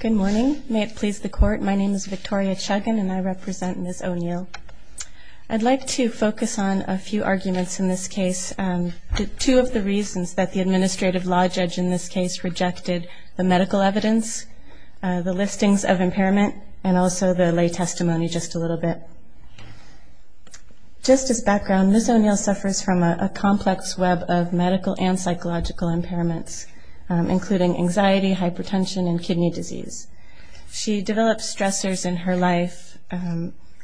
Good morning. May it please the Court, my name is Victoria Chuggin and I represent Ms. O'Neal. I'd like to focus on a few arguments in this case, two of the reasons that the administrative law judge in this case rejected the medical evidence, the listings of impairment, and also the lay testimony just a little bit. Just as background, Ms. O'Neal suffers from a complex web of medical and psychological impairments, including anxiety, hypertension, and kidney disease. She develops stressors in her life,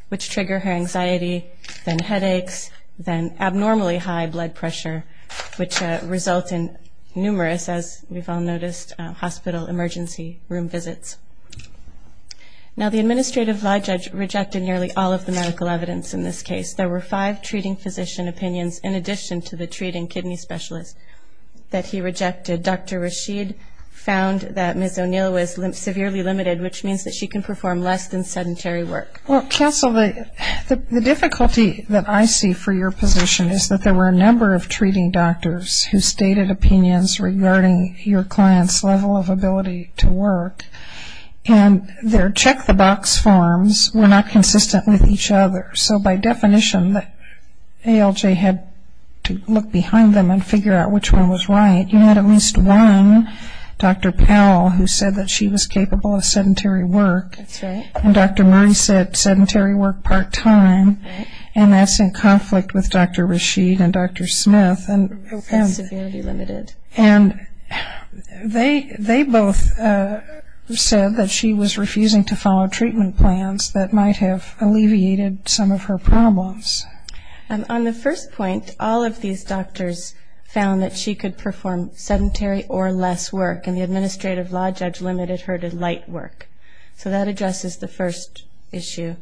which trigger her anxiety, then headaches, then abnormally high blood pressure, which result in numerous, as we've all noticed, hospital emergency room visits. Now the administrative law judge rejected nearly all of the medical evidence in this case. There were five treating physician opinions in addition to the treating kidney specialist that he rejected. Dr. Rashid found that Ms. O'Neal was severely limited, which means that she can perform less than sedentary work. Well, counsel, the difficulty that I see for your position is that there were a number of treating doctors who stated opinions regarding your client's level of ability to work, and their check-the-box forms were not consistent with each other. So by definition, ALJ had to look behind them and figure out which one was right. You had at least one, Dr. Powell, who said that she was capable of sedentary work. That's right. And Dr. Murray said sedentary work part-time, and that's in conflict with Dr. Rashid and Dr. Smith. Severely limited. And they both said that she was refusing to follow treatment plans that might have alleviated some of her problems. On the first point, all of these doctors found that she could perform sedentary or less work, and the administrative law judge limited her to light work. So that addresses the first issue.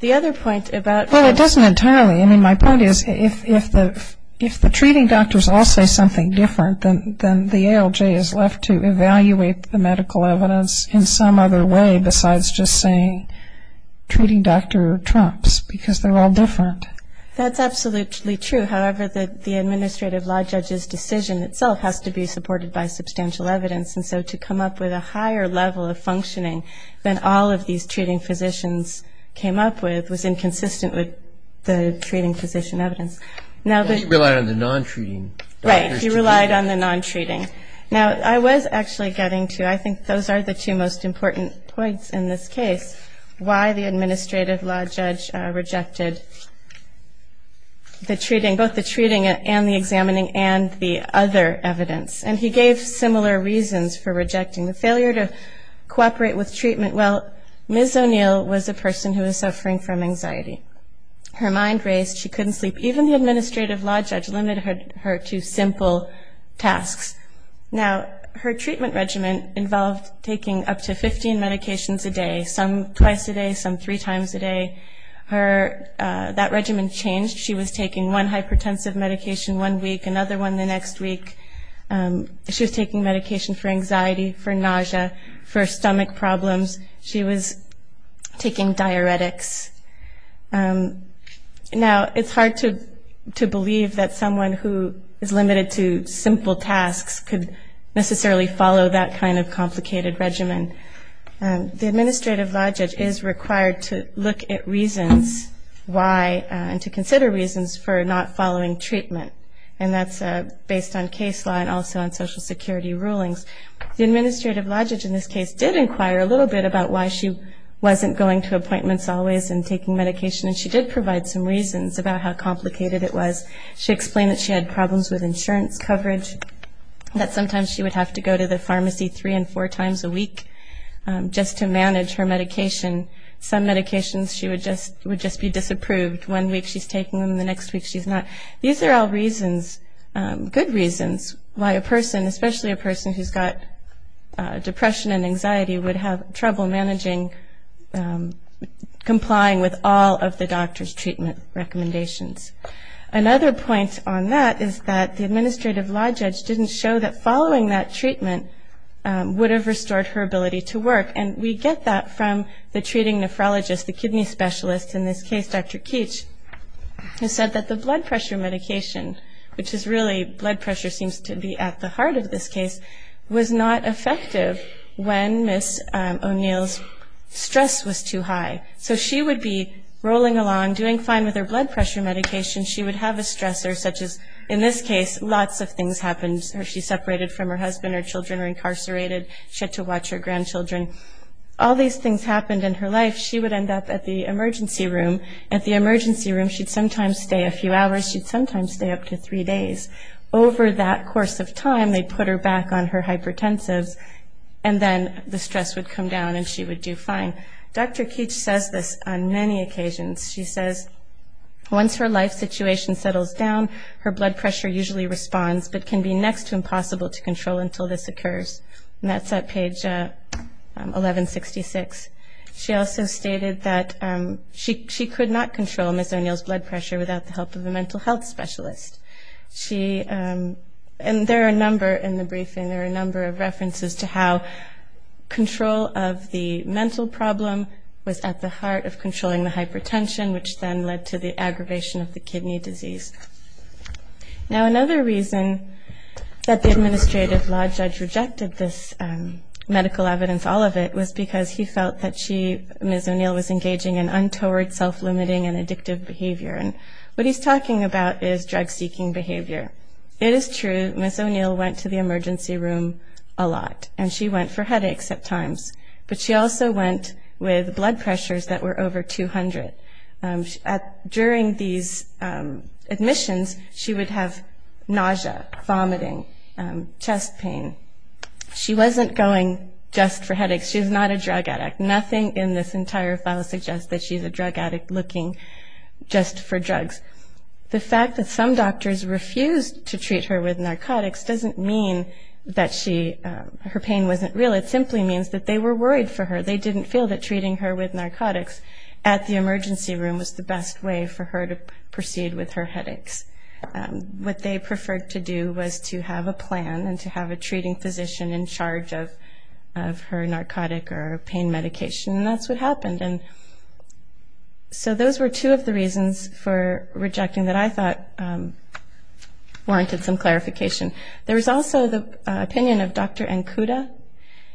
The other point about her was- Well, it doesn't entirely. I mean, my point is if the treating doctors all say something different, then the ALJ is left to evaluate the medical evidence in some other way besides just saying treating Dr. Trumps, because they're all different. That's absolutely true. However, the administrative law judge's decision itself has to be supported by substantial evidence, and so to come up with a higher level of functioning than all of these treating physicians came up with was inconsistent with the treating physician evidence. He relied on the non-treating doctors. Right, he relied on the non-treating. Now, I was actually getting to, I think those are the two most important points in this case, why the administrative law judge rejected the treating, both the treating and the examining and the other evidence. And he gave similar reasons for rejecting the failure to cooperate with treatment. Well, Ms. O'Neill was a person who was suffering from anxiety. Her mind raced. She couldn't sleep. Even the administrative law judge limited her to simple tasks. Now, her treatment regimen involved taking up to 15 medications a day, some twice a day, some three times a day. That regimen changed. She was taking one hypertensive medication one week, another one the next week. She was taking medication for anxiety, for nausea, for stomach problems. She was taking diuretics. Now, it's hard to believe that someone who is limited to simple tasks could necessarily follow that kind of complicated regimen. The administrative law judge is required to look at reasons why and to consider reasons for not following treatment, and that's based on case law and also on Social Security rulings. The administrative law judge in this case did inquire a little bit about why she wasn't going to appointments always and taking medication, and she did provide some reasons about how complicated it was. She explained that she had problems with insurance coverage, that sometimes she would have to go to the pharmacy three and four times a week just to manage her medication. Some medications she would just be disapproved. One week she's taking them, the next week she's not. These are all reasons, good reasons, why a person, especially a person who's got depression and anxiety would have trouble managing, complying with all of the doctor's treatment recommendations. Another point on that is that the administrative law judge didn't show that following that treatment would have restored her ability to work, and we get that from the treating nephrologist, the kidney specialist. In this case, Dr. Keech has said that the blood pressure medication, which is really blood pressure seems to be at the heart of this case, was not effective when Ms. O'Neill's stress was too high. So she would be rolling along, doing fine with her blood pressure medication. She would have a stressor such as, in this case, lots of things happened. She separated from her husband, her children were incarcerated. She had to watch her grandchildren. All these things happened in her life. She would end up at the emergency room. At the emergency room, she'd sometimes stay a few hours. She'd sometimes stay up to three days. Over that course of time, they'd put her back on her hypertensives, and then the stress would come down and she would do fine. Dr. Keech says this on many occasions. She says, once her life situation settles down, her blood pressure usually responds, but can be next to impossible to control until this occurs. And that's at page 1166. She also stated that she could not control Ms. O'Neill's blood pressure without the help of a mental health specialist. And there are a number in the briefing, there are a number of references to how control of the mental problem was at the heart of controlling the hypertension, which then led to the aggravation of the kidney disease. Now, another reason that the administrative law judge rejected this medical evidence, all of it, was because he felt that she, Ms. O'Neill, was engaging in untoward self-limiting and addictive behavior. And what he's talking about is drug-seeking behavior. It is true Ms. O'Neill went to the emergency room a lot, and she went for headaches at times. But she also went with blood pressures that were over 200. During these admissions, she would have nausea, vomiting, chest pain. She wasn't going just for headaches. She was not a drug addict. Nothing in this entire file suggests that she's a drug addict looking just for drugs. The fact that some doctors refused to treat her with narcotics doesn't mean that her pain wasn't real. It simply means that they were worried for her. They didn't feel that treating her with narcotics at the emergency room was the best way for her to proceed with her headaches. What they preferred to do was to have a plan and to have a treating physician in charge of her narcotic or pain medication, and that's what happened. So those were two of the reasons for rejecting that I thought warranted some clarification. There was also the opinion of Dr. Ankuda.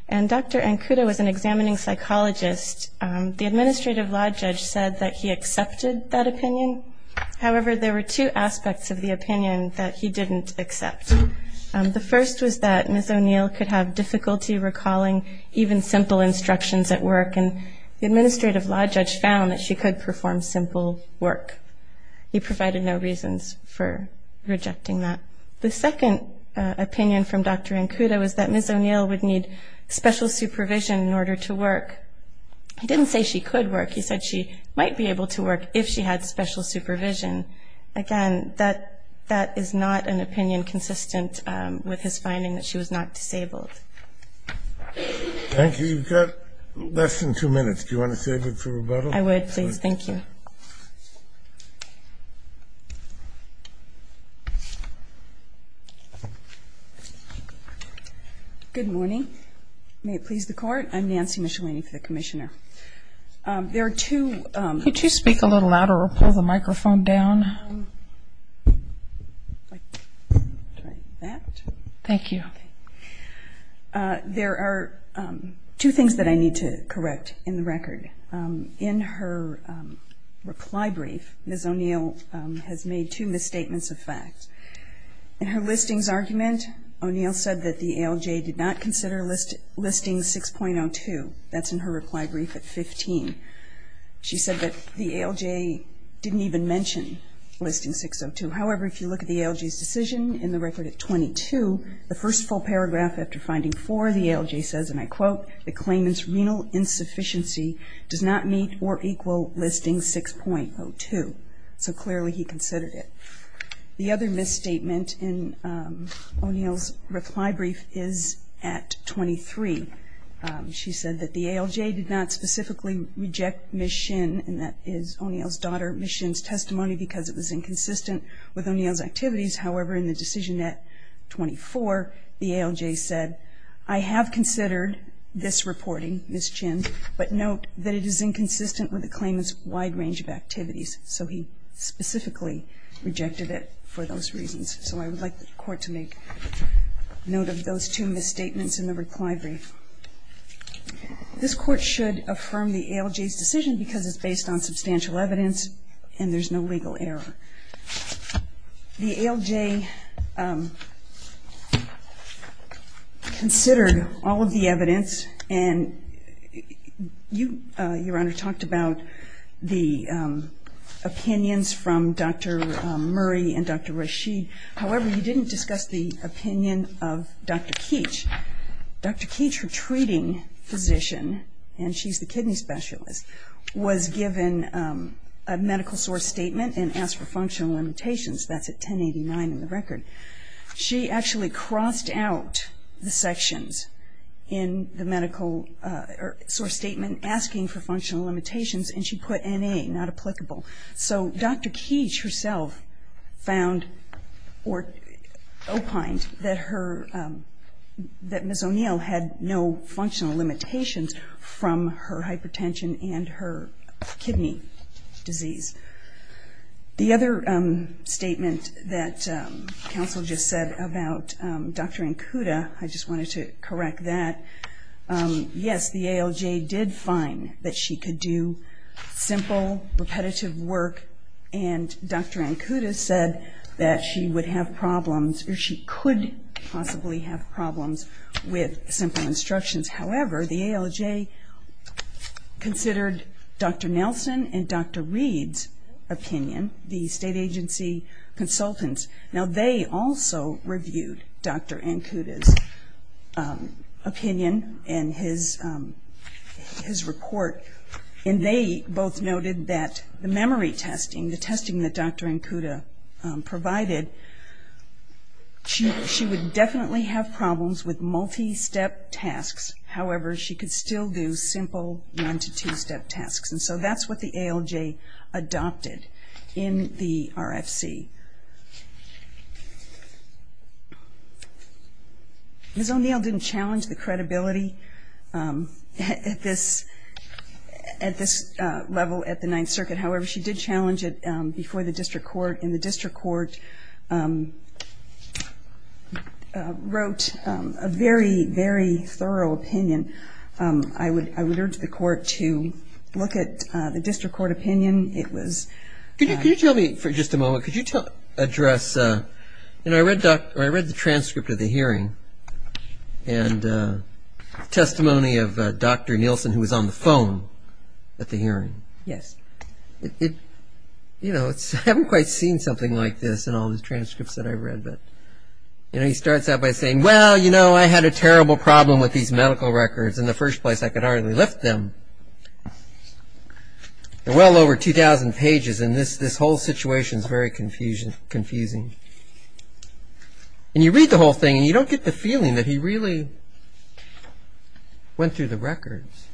And Dr. Ankuda was an examining psychologist. The administrative law judge said that he accepted that opinion. However, there were two aspects of the opinion that he didn't accept. The first was that Ms. O'Neill could have difficulty recalling even simple instructions at work, and the administrative law judge found that she could perform simple work. He provided no reasons for rejecting that. The second opinion from Dr. Ankuda was that Ms. O'Neill would need special supervision in order to work. He didn't say she could work. He said she might be able to work if she had special supervision. Again, that is not an opinion consistent with his finding that she was not disabled. Thank you. You've got less than two minutes. Do you want to save it for rebuttal? I would, please. Thank you. Good morning. May it please the Court. I'm Nancy Michelini for the Commissioner. There are two ñ Could you speak a little louder or pull the microphone down? Thank you. There are two things that I need to correct in the record. In her reply brief, Ms. O'Neill has made two misstatements of fact. In her listings argument, O'Neill said that the ALJ did not consider listing 6.02. That's in her reply brief at 15. She said that the ALJ didn't even mention listing 6.02. However, if you look at the ALJ's decision in the record at 22, the first full paragraph after finding 4, the ALJ says, and I quote, the claimant's renal insufficiency does not meet or equal listing 6.02. So clearly he considered it. The other misstatement in O'Neill's reply brief is at 23. She said that the ALJ did not specifically reject Ms. Shin, and that is O'Neill's daughter Ms. Shin's testimony because it was inconsistent with O'Neill's activities. However, in the decision at 24, the ALJ said, I have considered this reporting, Ms. Shin, but note that it is inconsistent with the claimant's wide range of activities. So he specifically rejected it for those reasons. So I would like the Court to make note of those two misstatements in the reply brief. This Court should affirm the ALJ's decision because it's based on substantial evidence and there's no legal error. The ALJ considered all of the evidence, and you, Your Honor, talked about the opinions from Dr. Murray and Dr. Rasheed. However, you didn't discuss the opinion of Dr. Keech. Dr. Keech, her treating physician, and she's the kidney specialist, was given a medical source statement and asked for functional limitations. That's at 1089 in the record. She actually crossed out the sections in the medical source statement asking for functional limitations, and she put NA, not applicable. So Dr. Keech herself found or opined that Ms. O'Neill had no functional limitations from her hypertension and her kidney disease. The other statement that counsel just said about Dr. Ankuda, I just wanted to correct that. Yes, the ALJ did find that she could do simple, repetitive work, and Dr. Ankuda said that she would have problems or she could possibly have problems with simple instructions. However, the ALJ considered Dr. Nelson and Dr. Reed's opinion, the state agency consultants. Now, they also reviewed Dr. Ankuda's opinion in his report, and they both noted that the memory testing, the testing that Dr. Ankuda provided, she would definitely have problems with multi-step tasks. However, she could still do simple one- to two-step tasks, and so that's what the ALJ adopted in the RFC. Ms. O'Neill didn't challenge the credibility at this level at the Ninth Circuit. However, she did challenge it before the district court, and the district court wrote a very, very thorough opinion. I would urge the court to look at the district court opinion. Could you tell me for just a moment, could you address, I read the transcript of the hearing and testimony of Dr. Nelson who was on the phone at the hearing. Yes. You know, I haven't quite seen something like this in all the transcripts that I've read, but he starts out by saying, well, you know, I had a terrible problem with these medical records in the first place. I could hardly lift them. They're well over 2,000 pages, and this whole situation is very confusing. And you read the whole thing, and you don't get the feeling that he really went through the records.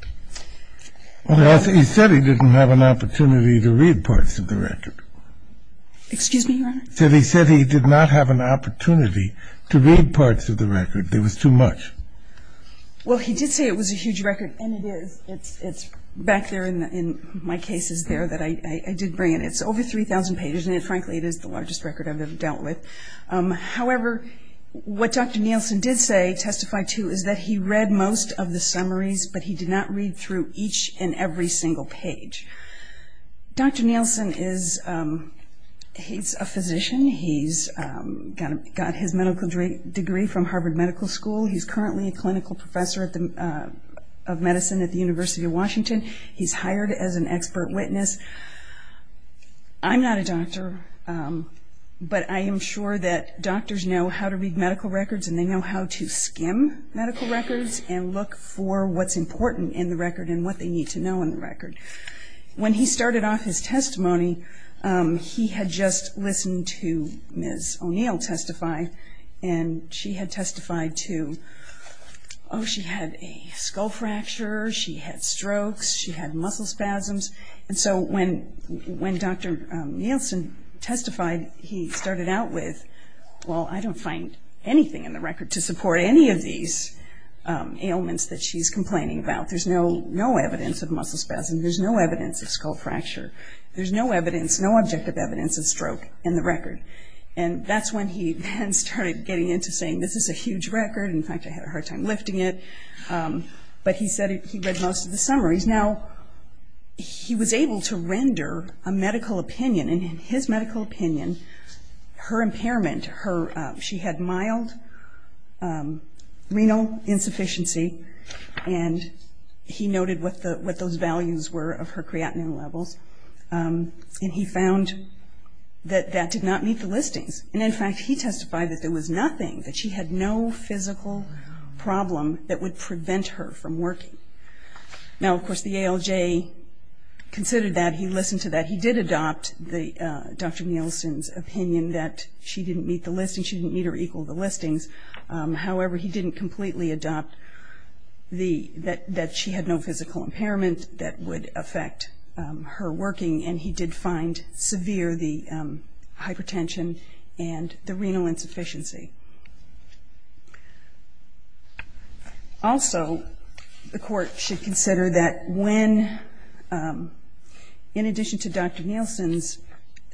Well, he said he didn't have an opportunity to read parts of the record. Excuse me, Your Honor? He said he did not have an opportunity to read parts of the record. There was too much. Well, he did say it was a huge record, and it is. It's back there in my cases there that I did bring it. It's over 3,000 pages, and frankly, it is the largest record I've ever dealt with. However, what Dr. Nelson did say, testify to, is that he read most of the summaries, but he did not read through each and every single page. Dr. Nelson is a physician. He's got his medical degree from Harvard Medical School. He's currently a clinical professor of medicine at the University of Washington. He's hired as an expert witness. I'm not a doctor, but I am sure that doctors know how to read medical records, and they know how to skim medical records and look for what's important in the record and what they need to know in the record. When he started off his testimony, he had just listened to Ms. O'Neill testify, and she had testified to, oh, she had a skull fracture, she had strokes, she had muscle spasms. And so when Dr. Nelson testified, he started out with, well, I don't find anything in the record to support any of these ailments that she's complaining about. There's no evidence of muscle spasms. There's no evidence of skull fracture. There's no evidence, no objective evidence of stroke in the record. And that's when he then started getting into saying, this is a huge record. In fact, I had a hard time lifting it. But he said he read most of the summaries. Now, he was able to render a medical opinion. And in his medical opinion, her impairment, she had mild renal insufficiency, and he noted what those values were of her creatinine levels. And he found that that did not meet the listings. And, in fact, he testified that there was nothing, that she had no physical problem that would prevent her from working. Now, of course, the ALJ considered that. He listened to that. He did adopt Dr. Nelson's opinion that she didn't meet the listings, she didn't meet or equal the listings. However, he didn't completely adopt that she had no physical impairment that would affect her working. And he did find severe the hypertension and the renal insufficiency. Also, the court should consider that when, in addition to Dr. Nelson's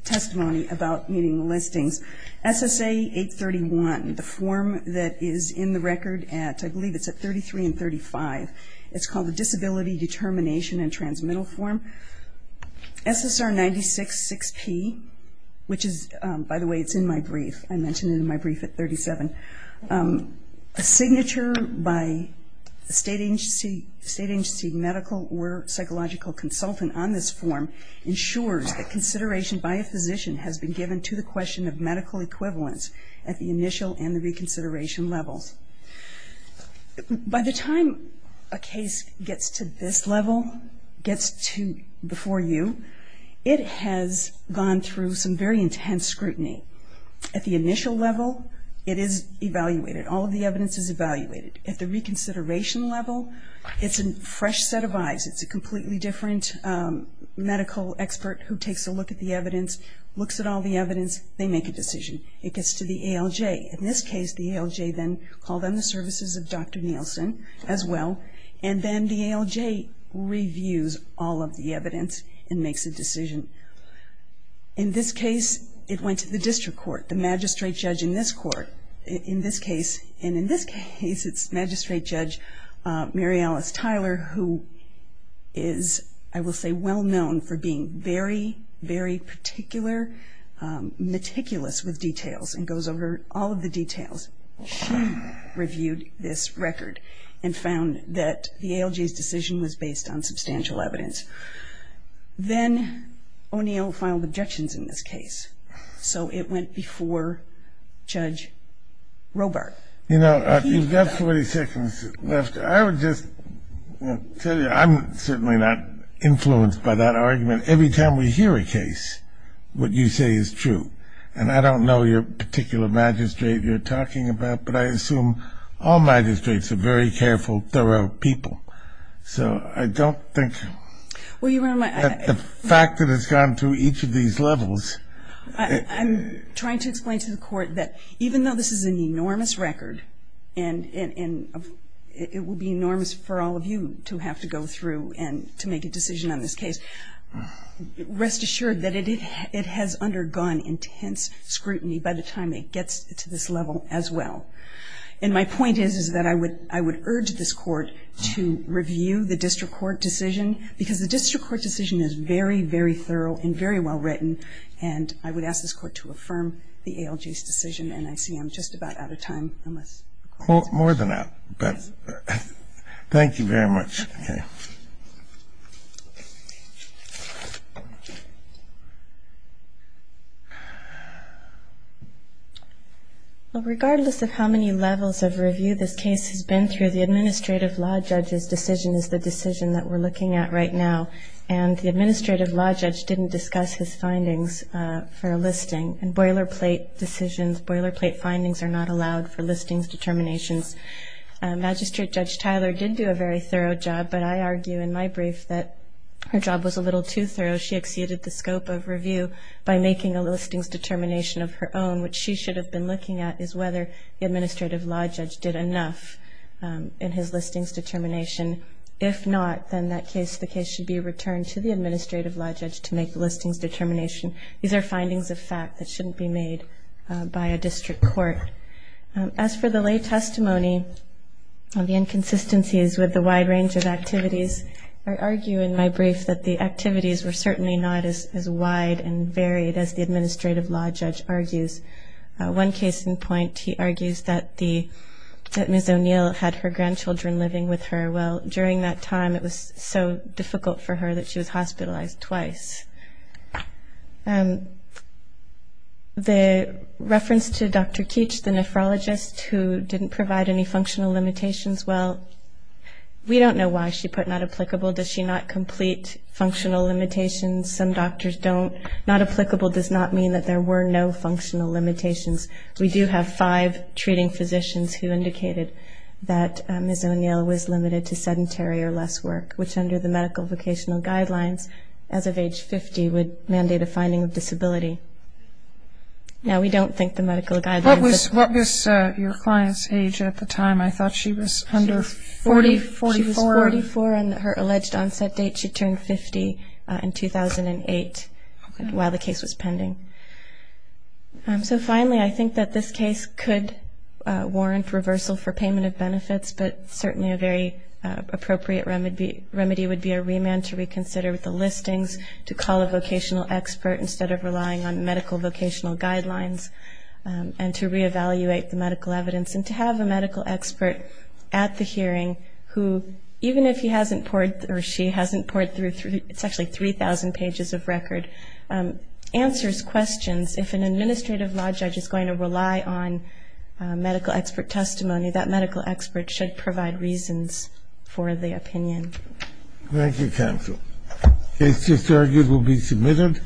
testimony about meeting the listings, SSA 831, the form that is in the record at, I believe it's at 33 and 35, it's called the Disability Determination and Transmittal Form, SSR 96-6P, which is, by the way, it's in my brief. I mentioned it in my brief at the beginning. A signature by a state agency medical or psychological consultant on this form ensures that consideration by a physician has been given to the question of medical equivalence at the initial and the reconsideration levels. By the time a case gets to this level, gets to before you, it has gone through some very intense scrutiny. At the initial level, it is evaluated. All of the evidence is evaluated. At the reconsideration level, it's a fresh set of eyes. It's a completely different medical expert who takes a look at the evidence, looks at all the evidence, they make a decision. It gets to the ALJ. In this case, the ALJ then called on the services of Dr. Nelson as well, and then the ALJ reviews all of the evidence and makes a decision. In this case, it went to the district court, the magistrate judge in this court. In this case, it's Magistrate Judge Mary Alice Tyler, who is, I will say, well-known for being very, very particular, meticulous with details, and goes over all of the details. She reviewed this record and found that the ALJ's decision was based on substantial evidence. Then O'Neill filed objections in this case, so it went before Judge Robart. You know, you've got 40 seconds left. I would just tell you, I'm certainly not influenced by that argument. Every time we hear a case, what you say is true, and I don't know your particular magistrate you're talking about, but I assume all magistrates are very careful, thorough people. So I don't think that the fact that it's gone through each of these levels. I'm trying to explain to the court that even though this is an enormous record, and it will be enormous for all of you to have to go through and to make a decision on this case, rest assured that it has undergone intense scrutiny by the time it gets to this level as well. And my point is, is that I would urge this Court to review the district court decision, because the district court decision is very, very thorough and very well written, and I would ask this Court to affirm the ALJ's decision. And I see I'm just about out of time. I must close. More than that. Thank you very much. Okay. Well, regardless of how many levels of review this case has been through, the administrative law judge's decision is the decision that we're looking at right now, and the administrative law judge didn't discuss his findings for a listing. And boilerplate decisions, boilerplate findings are not allowed for listings, determinations. Magistrate Judge Tyler did do a very thorough job, but I argue in my brief, that her job was a little too thorough. She exceeded the scope of review by making a listings determination of her own, which she should have been looking at, is whether the administrative law judge did enough in his listings determination. If not, then that case, the case should be returned to the administrative law judge to make the listings determination. These are findings of fact that shouldn't be made by a district court. As for the lay testimony, the inconsistencies with the wide range of activities, I argue in my brief that the activities were certainly not as wide and varied as the administrative law judge argues. One case in point, he argues that Ms. O'Neill had her grandchildren living with her. Well, during that time, it was so difficult for her that she was hospitalized twice. The reference to Dr. Keech, the nephrologist, who didn't provide any functional limitations, well, we don't know why she put not applicable. Does she not complete functional limitations? Some doctors don't. Not applicable does not mean that there were no functional limitations. We do have five treating physicians who indicated that Ms. O'Neill was limited to sedentary or less work, which under the medical vocational guidelines as of age 50 would mandate a finding of disability. Now, we don't think the medical guidelines. What was your client's age at the time? I thought she was under 40, 44. She was 44 on her alleged onset date. She turned 50 in 2008 while the case was pending. So finally, I think that this case could warrant reversal for payment of benefits, but certainly a very appropriate remedy would be a remand to reconsider the listings, to call a vocational expert instead of relying on medical vocational guidelines, and to reevaluate the medical evidence, and to have a medical expert at the hearing who, even if he hasn't poured or she hasn't poured through, it's actually 3,000 pages of record, answers questions. If an administrative law judge is going to rely on medical expert testimony, that medical expert should provide reasons for the opinion. Thank you, counsel. Cases argued will be submitted.